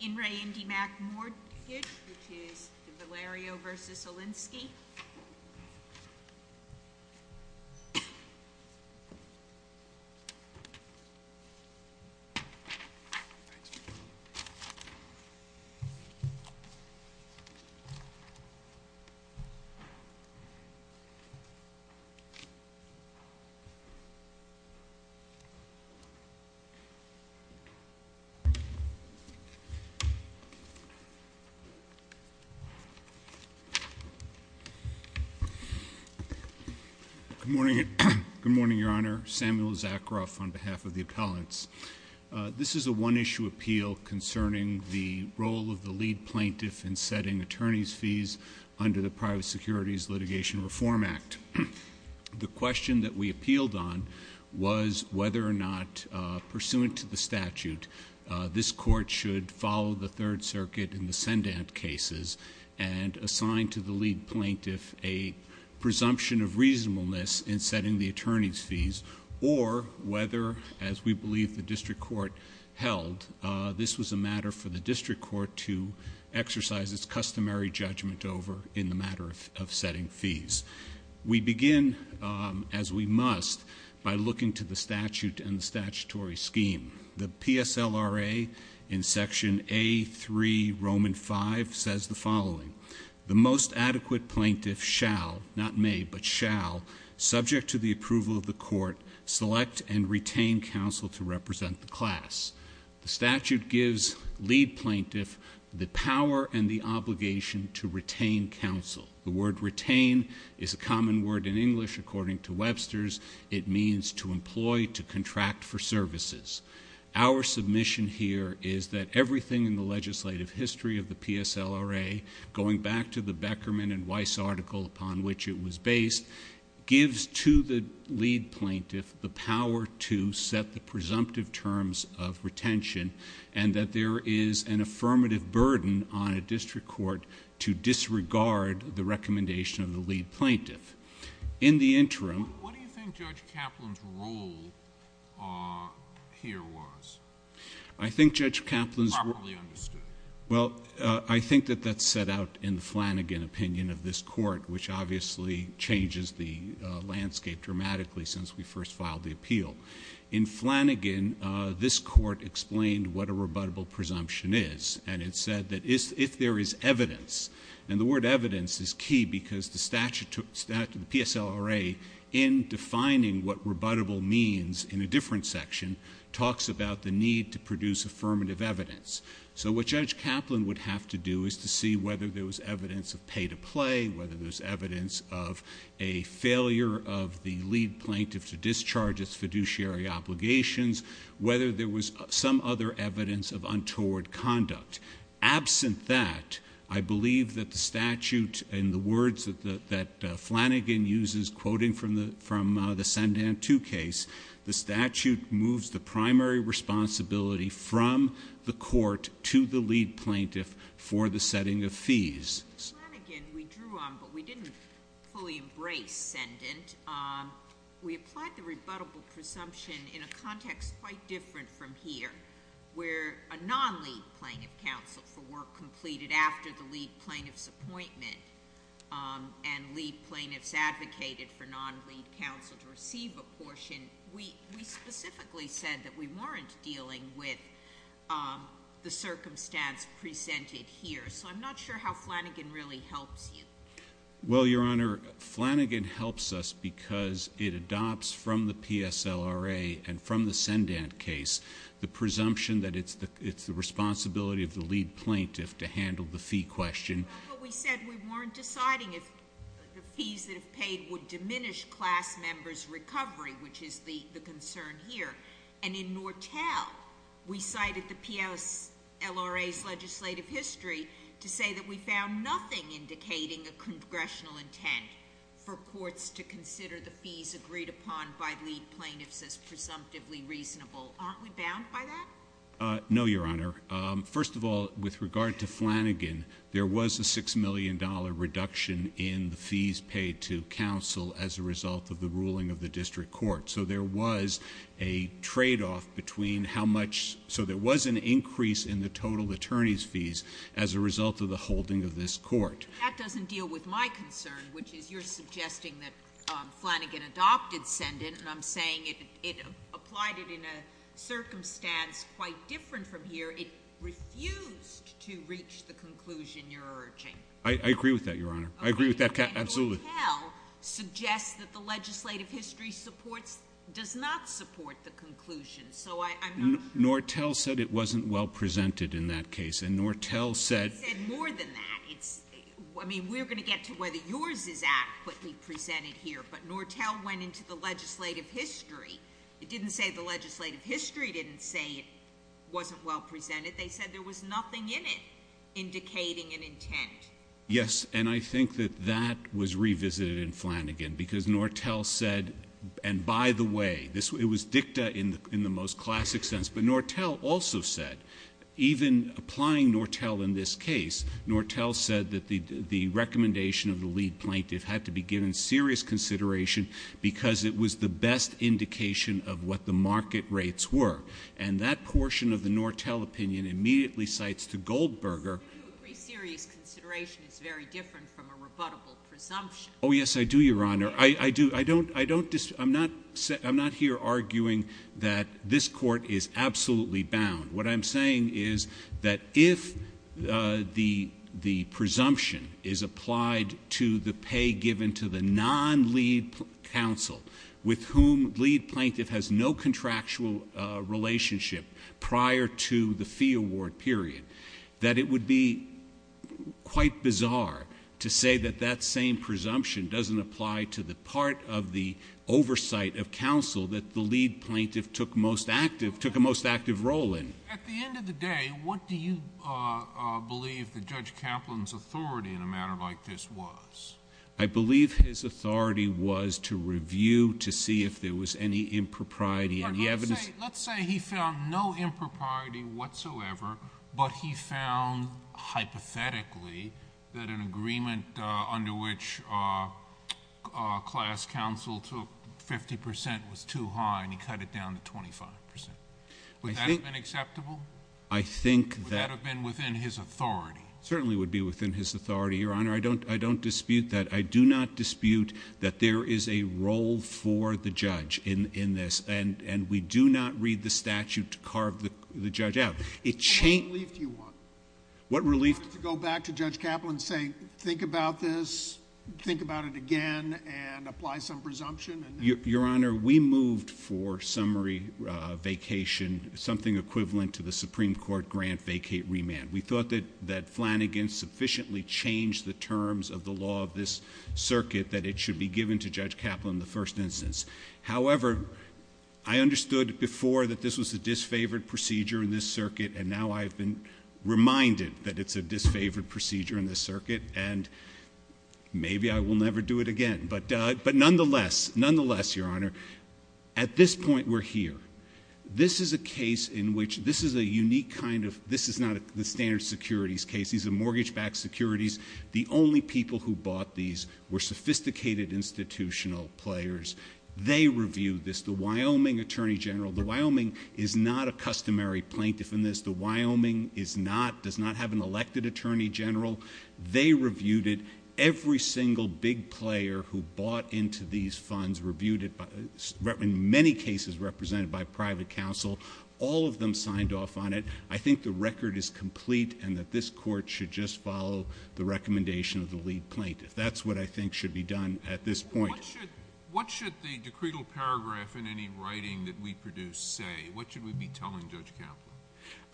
In Re IndyMac Mortgage, which is Valerio versus Olinsky. Good morning, Your Honor. Samuel Zakaroff on behalf of the appellants. This is a one-issue appeal concerning the role of the lead plaintiff in setting attorney's fees under the Private Securities Litigation Reform Act. The question that we appealed on was whether or not, pursuant to the statute, this Court should follow the Third Circuit in the Sendant cases and assign to the lead plaintiff a presumption of reasonableness in setting the attorney's fees, or whether, as we believe the District Court held, this was a matter for the District Court to exercise its customary judgment over in the matter of setting fees. We begin, as we must, by looking to the statute and the statutory scheme. The PSLRA in Section A3, Roman 5, says the following, the most adequate plaintiff shall, not may, but shall, subject to the approval of the Court, select and retain counsel to represent the class. The statute gives lead plaintiff the power and the obligation to retain counsel. The word retain is a common word in English, according to Webster's, it means to employ, to contract for services. Our submission here is that everything in the legislative history of the PSLRA, going back to the Beckerman and Weiss article upon which it was based, gives to the lead plaintiff the power to set the presumptive terms of retention, and that there is an affirmative burden on a District Court to disregard the recommendation of the lead plaintiff. In the interim— What do you think Judge Kaplan's role here was? I think Judge Kaplan's— Properly understood. Well, I think that that's set out in the Flanagan opinion of this Court, which obviously changes the landscape dramatically since we first filed the appeal. In Flanagan, this Court explained what a rebuttable presumption is, and it said that if there is evidence, and the word evidence is key because the PSLRA, in defining what rebuttable means in a different section, talks about the need to produce affirmative evidence. So what Judge Kaplan would have to do is to see whether there was evidence of pay to play, whether there's evidence of a failure of the lead plaintiff to discharge its fiduciary obligations, whether there was some other evidence of untoward conduct. Absent that, I believe that the statute, in the words that Flanagan uses, quoting from the Sandan 2 case, the statute moves the primary responsibility from the Court to the lead plaintiff for the setting of fees. In Flanagan, we drew on, but we didn't fully embrace, sendent. We applied the rebuttable presumption in a context quite different from here, where a non-lead plaintiff counsel for work completed after the lead plaintiff's appointment and lead plaintiffs advocated for non-lead counsel to receive a portion, we specifically said that we weren't dealing with the circumstance presented here. So I'm not sure how Flanagan really helps you. Well, Your Honor, Flanagan helps us because it adopts from the PSLRA and from the sendent case the presumption that it's the responsibility of the lead plaintiff to handle the fee question. But we said we weren't deciding if the fees that are paid would diminish class members' recovery, which is the concern here. And in Nortel, we cited the PSLRA's legislative history to say that we found nothing indicating a congressional intent for courts to consider the fees agreed upon by lead plaintiffs as presumptively reasonable. Aren't we bound by that? No, Your Honor. First of all, with regard to Flanagan, there was a $6 million reduction in the fees paid to counsel as a result of the ruling of the district court. So there was a tradeoff between how much—so there was an increase in the total attorney's fees as a result of the holding of this court. That doesn't deal with my concern, which is you're suggesting that Flanagan adopted sendent, and I'm saying it applied it in a circumstance quite different from here. It refused to reach the conclusion you're urging. I agree with that, Your Honor. I agree with that—absolutely. But Nortel suggests that the legislative history supports—does not support the conclusion. So I'm not— Nortel said it wasn't well presented in that case. And Nortel said— It said more than that. It's—I mean, we're going to get to whether yours is adequately presented here, but Nortel went into the legislative history. It didn't say the legislative history didn't say it wasn't well presented. They said there was nothing in it indicating an intent. Yes. And I think that that was revisited in Flanagan because Nortel said—and by the way, it was dicta in the most classic sense. But Nortel also said, even applying Nortel in this case, Nortel said that the recommendation of the lead plaintiff had to be given serious consideration because it was the best indication of what the market rates were. And that portion of the Nortel opinion immediately cites to Goldberger— Every serious consideration is very different from a rebuttable presumption. Oh, yes, I do, Your Honor. I do. I don't—I don't—I'm not here arguing that this Court is absolutely bound. What I'm saying is that if the presumption is applied to the pay given to the non-lead counsel with whom lead plaintiff has no contractual relationship prior to the fee award period, that it would be quite bizarre to say that that same presumption doesn't apply to the part of the oversight of counsel that the lead plaintiff took most active—took a most active role in. At the end of the day, what do you believe that Judge Kaplan's authority in a matter like this was? I believe his authority was to review to see if there was any impropriety in the evidence— hypothetically, that an agreement under which class counsel took 50 percent was too high and he cut it down to 25 percent. Would that have been acceptable? I think that— Would that have been within his authority? Certainly would be within his authority, Your Honor. I don't dispute that. I do not dispute that there is a role for the judge in this. And we do not read the statute to carve the judge out. What relief do you want? What relief? To go back to Judge Kaplan and say, think about this, think about it again, and apply some presumption? Your Honor, we moved for summary vacation something equivalent to the Supreme Court grant vacate remand. We thought that Flanagan sufficiently changed the terms of the law of this circuit that it should be given to Judge Kaplan in the first instance. However, I understood before that this was a disfavored procedure in this circuit, and now I've been reminded that it's a disfavored procedure in this circuit, and maybe I will never do it again. But nonetheless, nonetheless, Your Honor, at this point we're here. This is a case in which this is a unique kind of—this is not the standard securities case. These are mortgage-backed securities. The only people who bought these were sophisticated institutional players. They reviewed this. The Wyoming attorney general—the Wyoming is not a customary plaintiff in this. The Wyoming does not have an elected attorney general. They reviewed it. Every single big player who bought into these funds reviewed it, in many cases represented by private counsel. All of them signed off on it. I think the record is complete and that this Court should just follow the recommendation of the lead plaintiff. That's what I think should be done at this point. What should the decretal paragraph in any writing that we produce say? What should we be telling Judge Kaplan?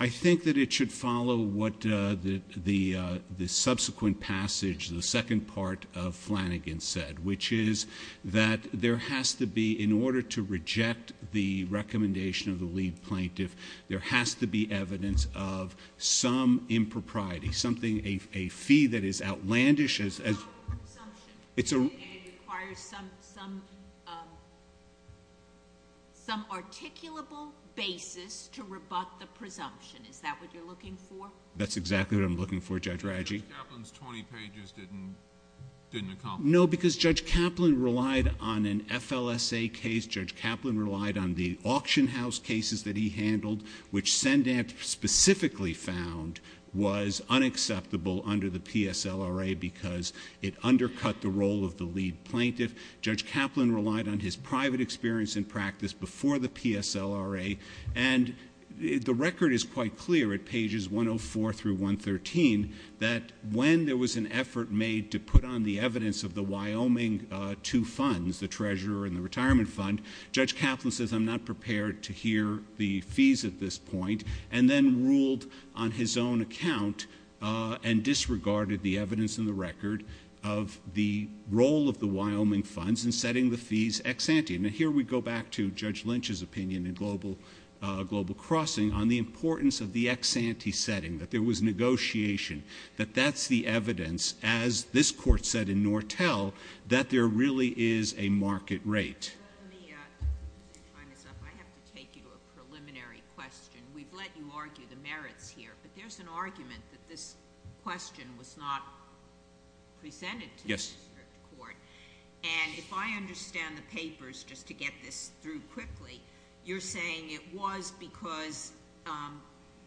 I think that it should follow what the subsequent passage, the second part of Flanagan said, which is that there has to be—in order to reject the recommendation of the lead plaintiff, there has to be evidence of some impropriety, something—a fee that is outlandish— It's about presumption. It's a— And it requires some articulable basis to rebut the presumption. Is that what you're looking for? That's exactly what I'm looking for, Judge Radji. But Judge Kaplan's 20 pages didn't accomplish that. No, because Judge Kaplan relied on an FLSA case. Judge Kaplan relied on the auction house cases that he handled, which Sendam specifically found was unacceptable under the PSLRA because it undercut the role of the lead plaintiff. Judge Kaplan relied on his private experience and practice before the PSLRA. And the record is quite clear at pages 104 through 113 that when there was an effort made to put on the evidence of the Wyoming two funds, the treasurer and the retirement fund, Judge Kaplan says, I'm not prepared to hear the fees at this point, and then ruled on his own account and disregarded the evidence in the record of the role of the Wyoming funds in setting the fees ex-ante. Now, here we go back to Judge Lynch's opinion in Global Crossing on the importance of the ex-ante setting, that there was negotiation, that that's the evidence, as this Court said in Nortel, that there really is a market rate. Let me time this up. I have to take you to a preliminary question. We've let you argue the merits here, but there's an argument that this question was not presented to the district court. Yes. And if I understand the papers, just to get this through quickly, you're saying it was because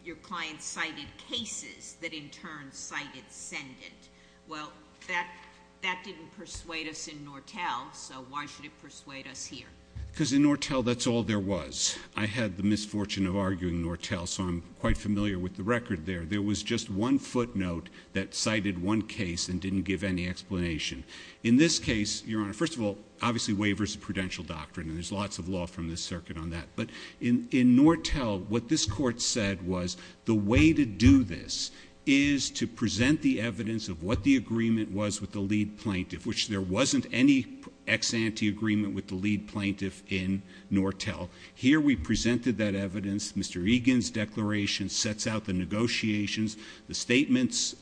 your client cited cases that in turn cited send-it. Well, that didn't persuade us in Nortel, so why should it persuade us here? Because in Nortel that's all there was. I had the misfortune of arguing Nortel, so I'm quite familiar with the record there. There was just one footnote that cited one case and didn't give any explanation. In this case, Your Honor, first of all, obviously waivers of prudential doctrine, and there's lots of law from this circuit on that. But in Nortel, what this Court said was the way to do this is to present the evidence of what the agreement was with the lead plaintiff, which there wasn't any ex-ante agreement with the lead plaintiff in Nortel. Here we presented that evidence. Mr. Egan's declaration sets out the negotiations, the statements.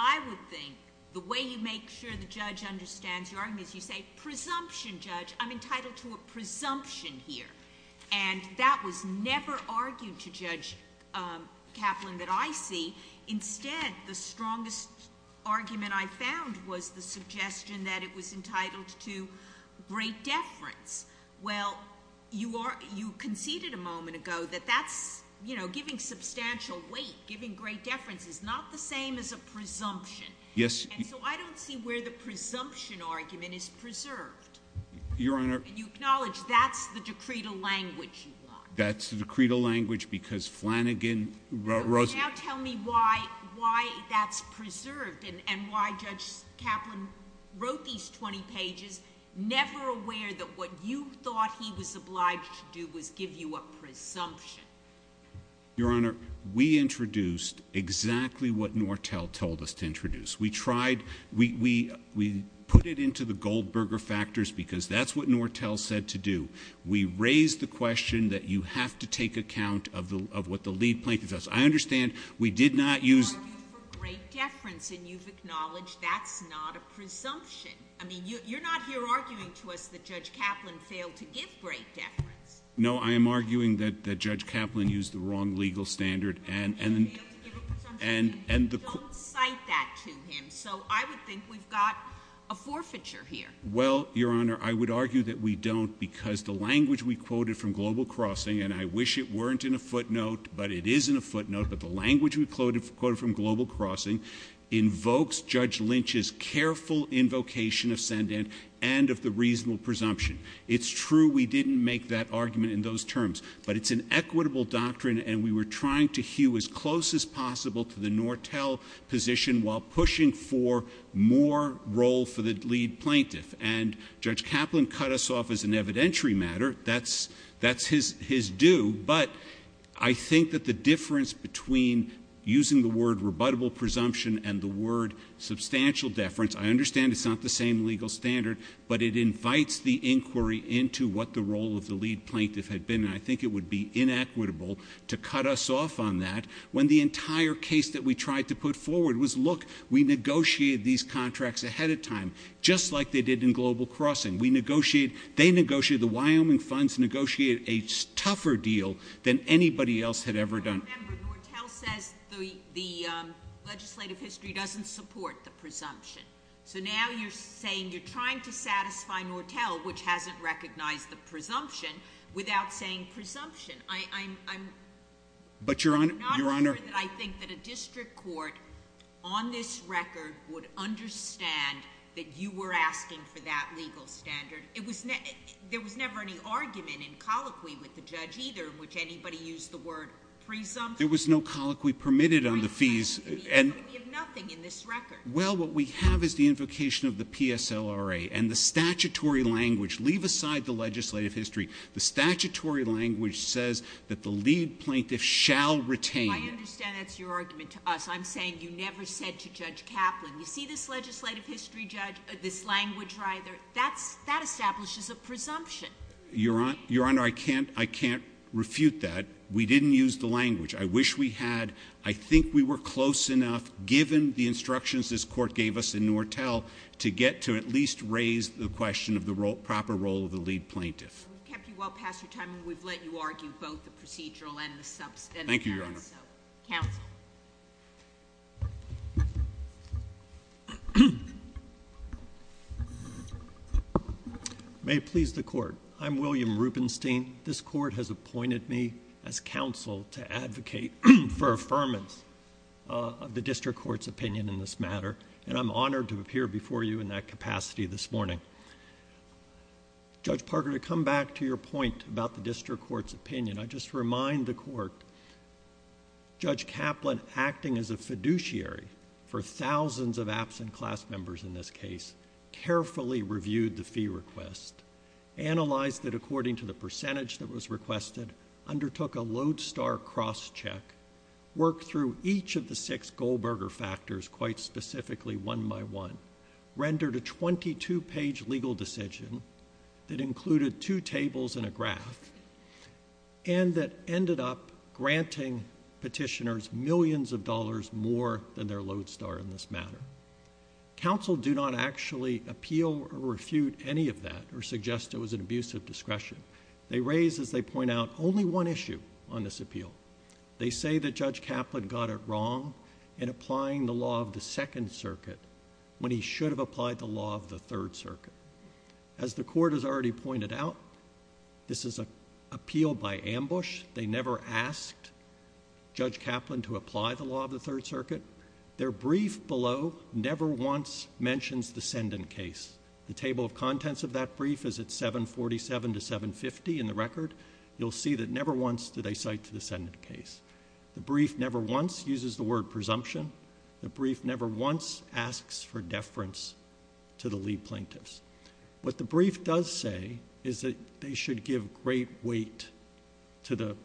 I would think the way you make sure the judge understands your argument is you say, presumption, judge, I'm entitled to a presumption here. And that was never argued to Judge Kaplan that I see. Instead, the strongest argument I found was the suggestion that it was entitled to great deference. Well, you conceded a moment ago that that's, you know, giving substantial weight, giving great deference, is not the same as a presumption. Yes. And so I don't see where the presumption argument is preserved. Your Honor. You acknowledge that's the decretal language you want. That's the decretal language because Flanagan wrote— Now tell me why that's preserved and why Judge Kaplan wrote these 20 pages, never aware that what you thought he was obliged to do was give you a presumption. Your Honor, we introduced exactly what Nortel told us to introduce. We tried—we put it into the Goldberger factors because that's what Nortel said to do. We raised the question that you have to take account of what the lead plaintiff does. I understand we did not use— You argued for great deference, and you've acknowledged that's not a presumption. I mean, you're not here arguing to us that Judge Kaplan failed to give great deference. No, I am arguing that Judge Kaplan used the wrong legal standard and— He failed to give a presumption. Don't cite that to him. So I would think we've got a forfeiture here. Well, Your Honor, I would argue that we don't because the language we quoted from Global Crossing, and I wish it weren't in a footnote, but it is in a footnote, but the language we quoted from Global Crossing invokes Judge Lynch's careful invocation of Sandan and of the reasonable presumption. It's true we didn't make that argument in those terms, but it's an equitable doctrine, and we were trying to hew as close as possible to the Nortel position while pushing for more role for the lead plaintiff. And Judge Kaplan cut us off as an evidentiary matter. That's his do. But I think that the difference between using the word rebuttable presumption and the word substantial deference, I understand it's not the same legal standard, but it invites the inquiry into what the role of the lead plaintiff had been, and I think it would be inequitable to cut us off on that when the entire case that we tried to put forward was, look, we negotiated these contracts ahead of time just like they did in Global Crossing. They negotiated the Wyoming funds, negotiated a tougher deal than anybody else had ever done. But remember, Nortel says the legislative history doesn't support the presumption. So now you're saying you're trying to satisfy Nortel, which hasn't recognized the presumption, without saying presumption. I'm not sure that I think that a district court on this record would understand that you were asking for that legal standard. There was never any argument in colloquy with the judge either in which anybody used the word presumption. There was no colloquy permitted on the fees. We have nothing in this record. Well, what we have is the invocation of the PSLRA and the statutory language. Leave aside the legislative history. The statutory language says that the lead plaintiff shall retain. I understand that's your argument to us. I'm saying you never said to Judge Kaplan, you see this legislative history, Judge, this language either, that establishes a presumption. Your Honor, I can't refute that. We didn't use the language. I wish we had. I think we were close enough, given the instructions this court gave us in Nortel, to get to at least raise the question of the proper role of the lead plaintiff. We've kept you well past your time, and we've let you argue both the procedural and the substantive. Thank you, Your Honor. Counsel. May it please the court. I'm William Rubenstein. This court has appointed me as counsel to advocate for affirmance of the district court's opinion in this matter, and I'm honored to appear before you in that capacity this morning. Judge Parker, to come back to your point about the district court's opinion, I just remind the court, Judge Kaplan, acting as a fiduciary for thousands of absent class members in this case, carefully reviewed the fee request, analyzed it according to the percentage that was requested, undertook a lodestar crosscheck, worked through each of the six Goldberger factors, quite specifically one by one, rendered a 22-page legal decision that included two tables and a graph, and that ended up granting petitioners millions of dollars more than their lodestar in this matter. Counsel do not actually appeal or refute any of that or suggest it was an abuse of discretion. They raise, as they point out, only one issue on this appeal. They say that Judge Kaplan got it wrong in applying the law of the Second Circuit when he should have applied the law of the Third Circuit. As the court has already pointed out, this is an appeal by ambush. They never asked Judge Kaplan to apply the law of the Third Circuit. Their brief below never once mentions the Senden case. The table of contents of that brief is at 747 to 750 in the record. You'll see that never once do they cite the Senden case. The brief never once uses the word presumption. The brief never once asks for deference to the lead plaintiffs. What the brief does say is that they should give great weight to the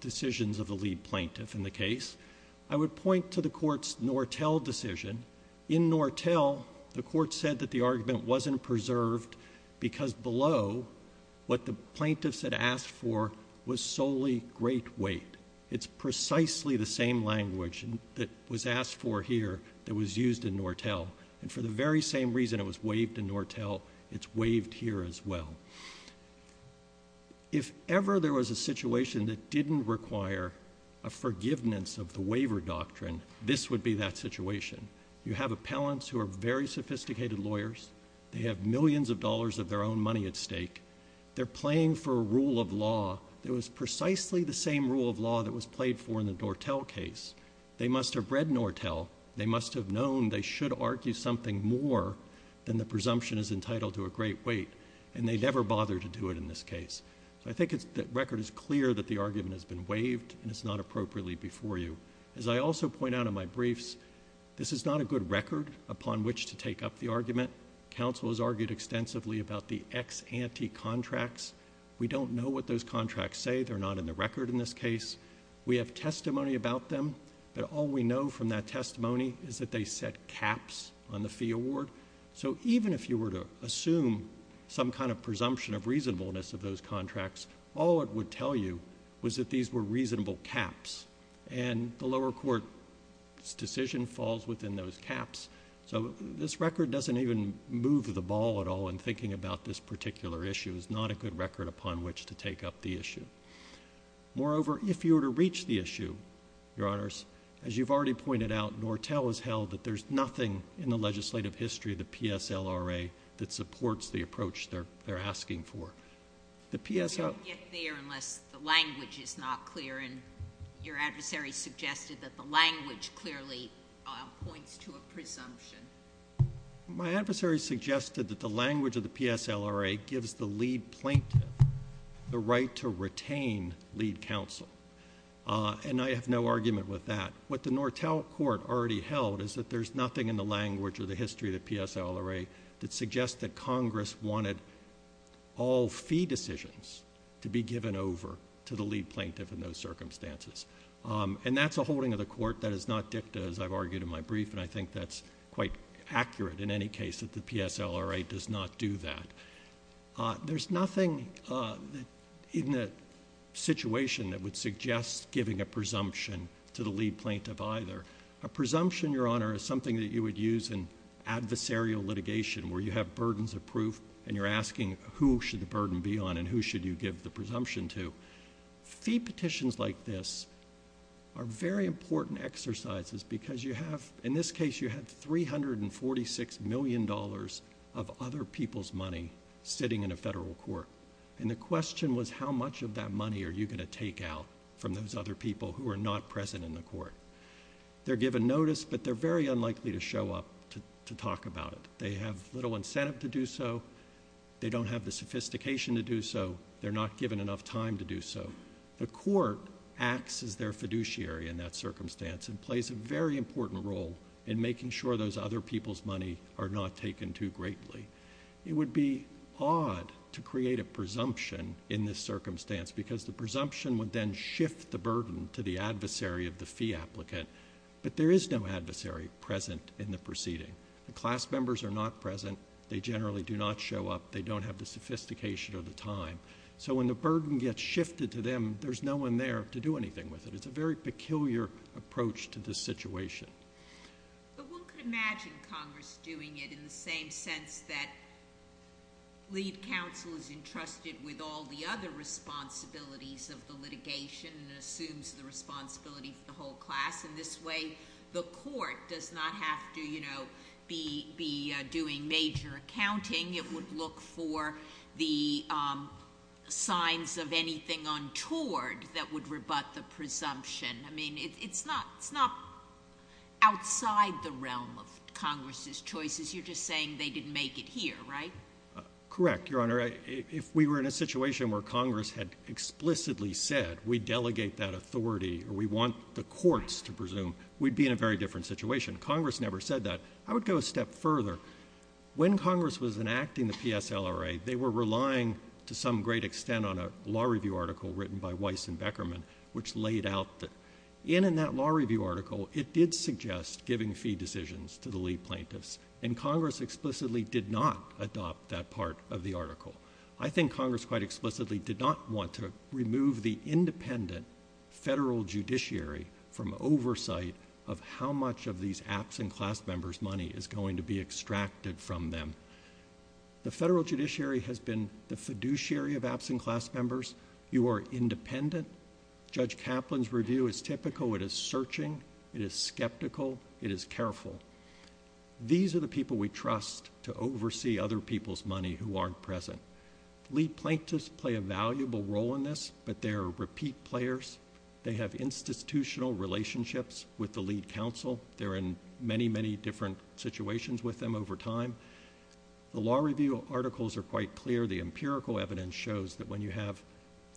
decisions of the lead plaintiff in the case. I would point to the court's Nortel decision. In Nortel, the court said that the argument wasn't preserved because below what the plaintiffs had asked for was solely great weight. It's precisely the same language that was asked for here that was used in Nortel. And for the very same reason it was waived in Nortel, it's waived here as well. If ever there was a situation that didn't require a forgiveness of the waiver doctrine, this would be that situation. You have appellants who are very sophisticated lawyers. They have millions of dollars of their own money at stake. They're playing for a rule of law that was precisely the same rule of law that was played for in the Nortel case. They must have read Nortel. They must have known they should argue something more than the presumption is entitled to a great weight, and they never bothered to do it in this case. So I think the record is clear that the argument has been waived, and it's not appropriately before you. As I also point out in my briefs, this is not a good record upon which to take up the argument. Counsel has argued extensively about the ex ante contracts. We don't know what those contracts say. They're not in the record in this case. We have testimony about them, but all we know from that testimony is that they set caps on the fee award. So even if you were to assume some kind of presumption of reasonableness of those contracts, all it would tell you was that these were reasonable caps, and the lower court's decision falls within those caps. So this record doesn't even move the ball at all in thinking about this particular issue. It's not a good record upon which to take up the issue. Moreover, if you were to reach the issue, Your Honors, as you've already pointed out, Nortel has held that there's nothing in the legislative history of the PSLRA that supports the approach they're asking for. The PSLRA... My adversary suggested that the language of the PSLRA gives the lead plaintiff the right to retain lead counsel, and I have no argument with that. What the Nortel Court already held is that there's nothing in the language or the history of the PSLRA that suggests that Congress wanted all fee decisions to be given over to the lead plaintiff in those circumstances. And that's a holding of the court that is not dicta, as I've argued in my brief, and I think that's quite accurate in any case that the PSLRA does not do that. There's nothing in the situation that would suggest giving a presumption to the lead plaintiff either. A presumption, Your Honor, is something that you would use in adversarial litigation, where you have burdens of proof and you're asking who should the burden be on and who should you give the presumption to. Fee petitions like this are very important exercises because you have, in this case, you have $346 million of other people's money sitting in a federal court, and the question was how much of that money are you going to take out from those other people who are not present in the court. They're given notice, but they're very unlikely to show up to talk about it. They have little incentive to do so. They don't have the sophistication to do so. They're not given enough time to do so. The court acts as their fiduciary in that circumstance and plays a very important role in making sure those other people's money are not taken too greatly. It would be odd to create a presumption in this circumstance because the presumption would then shift the burden to the adversary of the fee applicant, but there is no adversary present in the proceeding. The class members are not present. They generally do not show up. They don't have the sophistication or the time. So when the burden gets shifted to them, there's no one there to do anything with it. It's a very peculiar approach to this situation. But one could imagine Congress doing it in the same sense that lead counsel is entrusted with all the other responsibilities of the litigation and assumes the responsibility for the whole class, and this way the court does not have to, you know, be doing major accounting. It would look for the signs of anything untoward that would rebut the presumption. I mean, it's not outside the realm of Congress's choices. You're just saying they didn't make it here, right? Correct, Your Honor. If we were in a situation where Congress had explicitly said we delegate that authority or we want the courts to presume, we'd be in a very different situation. Congress never said that. I would go a step further. When Congress was enacting the PSLRA, they were relying to some great extent on a law review article written by Weiss and Beckerman which laid out that in that law review article, it did suggest giving fee decisions to the lead plaintiffs, and Congress explicitly did not adopt that part of the article. I think Congress quite explicitly did not want to remove the independent federal judiciary from oversight of how much of these absent class members' money is going to be extracted from them. The federal judiciary has been the fiduciary of absent class members. You are independent. Judge Kaplan's review is typical. It is searching. It is skeptical. It is careful. These are the people we trust to oversee other people's money who aren't present. Lead plaintiffs play a valuable role in this, but they are repeat players. They have institutional relationships with the lead counsel. They're in many, many different situations with them over time. The law review articles are quite clear. The empirical evidence shows that when you have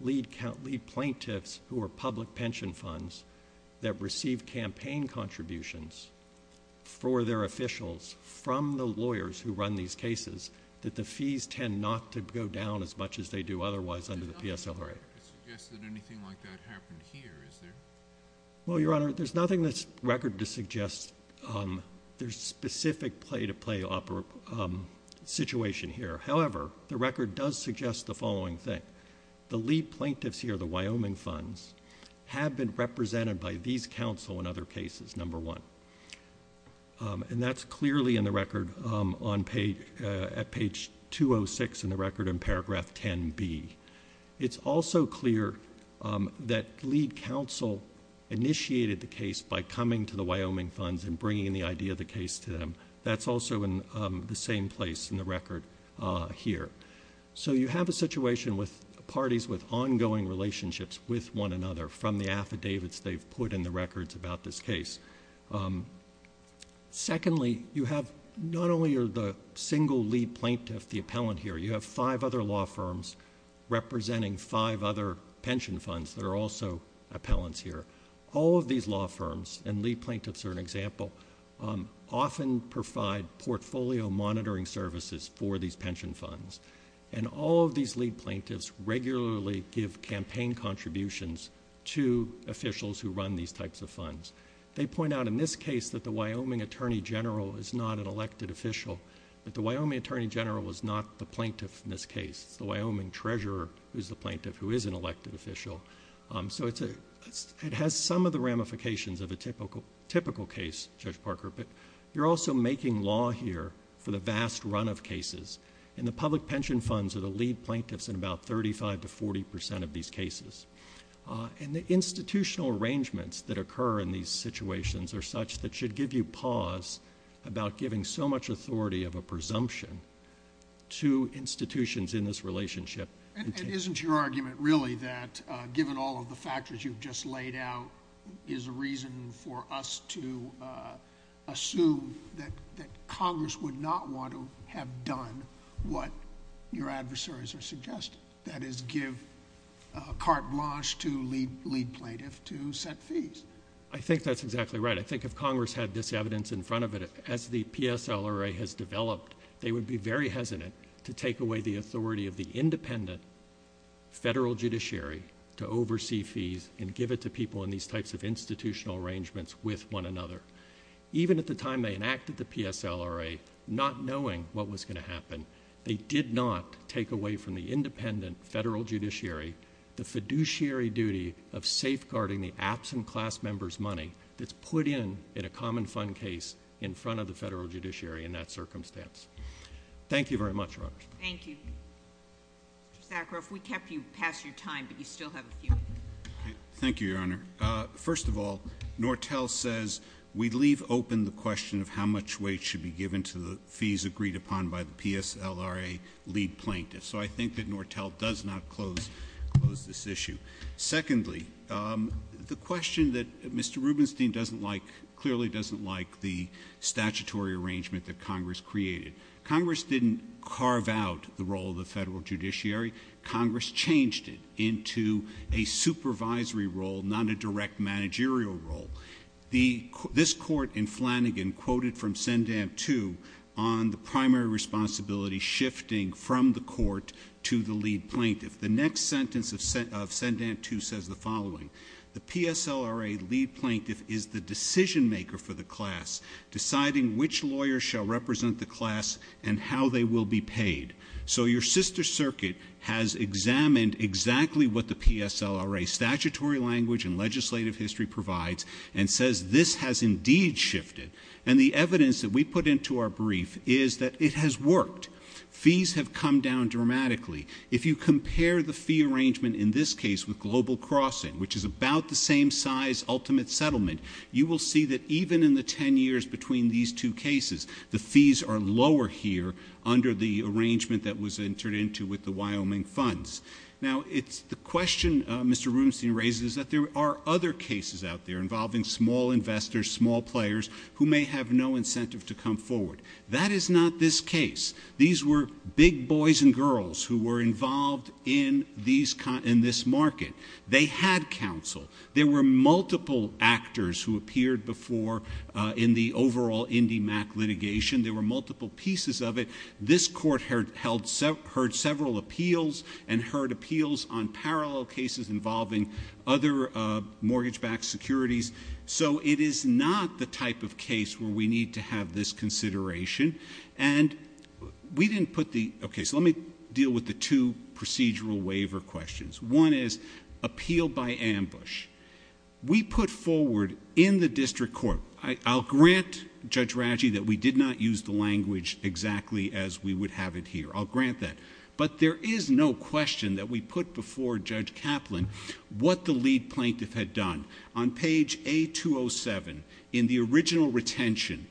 lead plaintiffs who are public pension funds that receive campaign contributions for their officials from the lawyers who run these cases, that the fees tend not to go down as much as they do otherwise under the PSLRA. There's no record to suggest that anything like that happened here, is there? Well, Your Honor, there's nothing in this record to suggest there's a specific play-to-play situation here. However, the record does suggest the following thing. The lead plaintiffs here, the Wyoming funds, have been represented by these counsel in other cases, number one. And that's clearly in the record at page 206 in the record in paragraph 10b. It's also clear that lead counsel initiated the case by coming to the Wyoming funds and bringing the idea of the case to them. That's also in the same place in the record here. So you have a situation with parties with ongoing relationships with one another from the affidavits they've put in the records about this case. Secondly, you have not only the single lead plaintiff, the appellant here, you have five other law firms representing five other pension funds that are also appellants here. All of these law firms, and lead plaintiffs are an example, often provide portfolio monitoring services for these pension funds. And all of these lead plaintiffs regularly give campaign contributions to officials who run these types of funds. They point out in this case that the Wyoming attorney general is not an elected official, but the Wyoming attorney general is not the plaintiff in this case. It's the Wyoming treasurer who is the plaintiff who is an elected official. So it has some of the ramifications of a typical case, Judge Parker, but you're also making law here for the vast run of cases, and the public pension funds are the lead plaintiffs in about 35 to 40 percent of these cases. And the institutional arrangements that occur in these situations are such that should give you pause about giving so much authority of a presumption to institutions in this relationship. And isn't your argument really that, given all of the factors you've just laid out, is a reason for us to assume that Congress would not want to have done what your adversaries are suggesting, that is give carte blanche to lead plaintiffs to set fees? I think that's exactly right. I think if Congress had this evidence in front of it, as the PSLRA has developed, they would be very hesitant to take away the authority of the independent federal judiciary to oversee fees and give it to people in these types of institutional arrangements with one another. Even at the time they enacted the PSLRA, not knowing what was going to happen, they did not take away from the independent federal judiciary the fiduciary duty of safeguarding the absent class members' money that's put in at a common fund case in front of the federal judiciary in that circumstance. Thank you very much, Your Honor. Thank you. Mr. Sakharoff, we kept you past your time, but you still have a few minutes. Thank you, Your Honor. First of all, Nortel says we leave open the question of how much weight should be given to the fees agreed upon by the PSLRA lead plaintiffs. So I think that Nortel does not close this issue. Secondly, the question that Mr. Rubenstein doesn't like, clearly doesn't like the statutory arrangement that Congress created. Congress didn't carve out the role of the federal judiciary. Congress changed it into a supervisory role, not a direct managerial role. This court in Flanagan quoted from Sendam II on the primary responsibility shifting from the court to the lead plaintiff. The next sentence of Sendam II says the following, the PSLRA lead plaintiff is the decision maker for the class, deciding which lawyers shall represent the class and how they will be paid. So your sister circuit has examined exactly what the PSLRA statutory language and legislative history provides and says this has indeed shifted. And the evidence that we put into our brief is that it has worked. Fees have come down dramatically. If you compare the fee arrangement in this case with Global Crossing, which is about the same size ultimate settlement, you will see that even in the ten years between these two cases, the fees are lower here under the arrangement that was entered into with the Wyoming funds. Now, the question Mr. Rubenstein raises is that there are other cases out there involving small investors, small players who may have no incentive to come forward. That is not this case. These were big boys and girls who were involved in this market. They had counsel. There were multiple actors who appeared before in the overall IndyMac litigation. There were multiple pieces of it. This court heard several appeals and heard appeals on parallel cases involving other mortgage-backed securities. So it is not the type of case where we need to have this consideration. And we didn't put the... Okay, so let me deal with the two procedural waiver questions. One is appeal by ambush. We put forward in the district court... I'll grant Judge Raggi that we did not use the language exactly as we would have it here. I'll grant that. But there is no question that we put before Judge Kaplan what the lead plaintiff had done. On page A-207, in the original retention,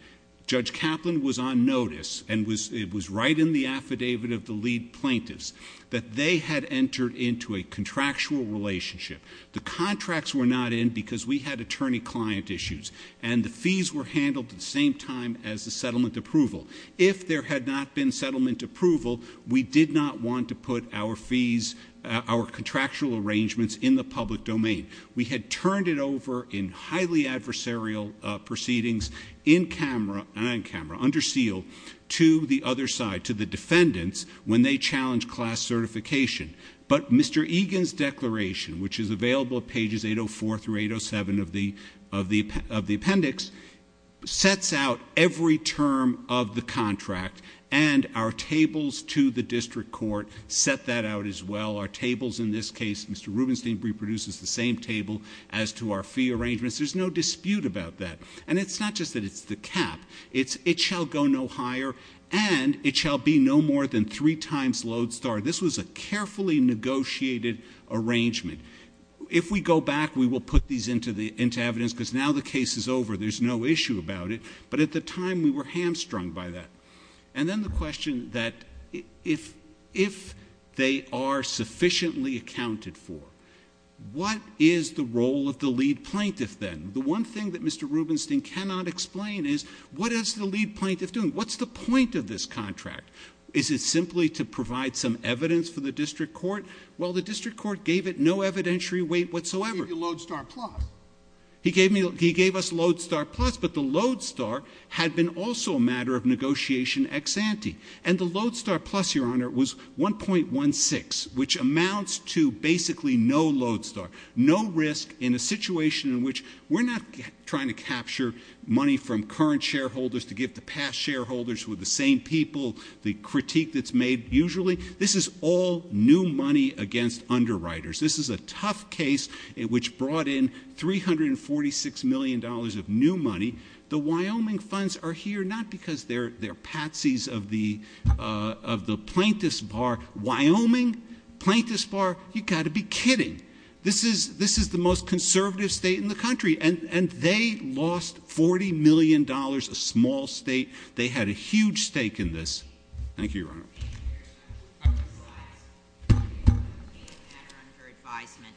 Judge Kaplan was on notice, and it was right in the affidavit of the lead plaintiffs, that they had entered into a contractual relationship. The contracts were not in because we had attorney-client issues, and the fees were handled at the same time as the settlement approval. If there had not been settlement approval, we did not want to put our fees, our contractual arrangements, in the public domain. We had turned it over in highly adversarial proceedings in camera, not in camera, under seal, to the other side, to the defendants, when they challenged class certification. But Mr. Egan's declaration, which is available at pages 804 through 807 of the appendix, sets out every term of the contract, and our tables to the district court set that out as well. Our tables in this case, Mr. Rubenstein reproduces the same table as to our fee arrangements. There's no dispute about that. And it's not just that it's the cap. It shall go no higher, and it shall be no more than three times Lodestar. This was a carefully negotiated arrangement. If we go back, we will put these into evidence, because now the case is over. There's no issue about it. But at the time, we were hamstrung by that. And then the question that if they are sufficiently accounted for, what is the role of the lead plaintiff then? The one thing that Mr. Rubenstein cannot explain is what is the lead plaintiff doing? What's the point of this contract? Is it simply to provide some evidence for the district court? Well, the district court gave it no evidentiary weight whatsoever. He gave you Lodestar Plus. He gave us Lodestar Plus, but the Lodestar had been also a matter of negotiation ex ante. And the Lodestar Plus, Your Honor, was 1.16, which amounts to basically no Lodestar, no risk in a situation in which we're not trying to capture money from current shareholders to give to past shareholders with the same people, the critique that's made usually. This is all new money against underwriters. This is a tough case which brought in $346 million of new money. The Wyoming funds are here not because they're patsies of the plaintiff's bar. Wyoming, plaintiff's bar, you've got to be kidding. This is the most conservative state in the country, and they lost $40 million, a small state. They had a huge stake in this. Thank you, Your Honor. Thank you for your advisement.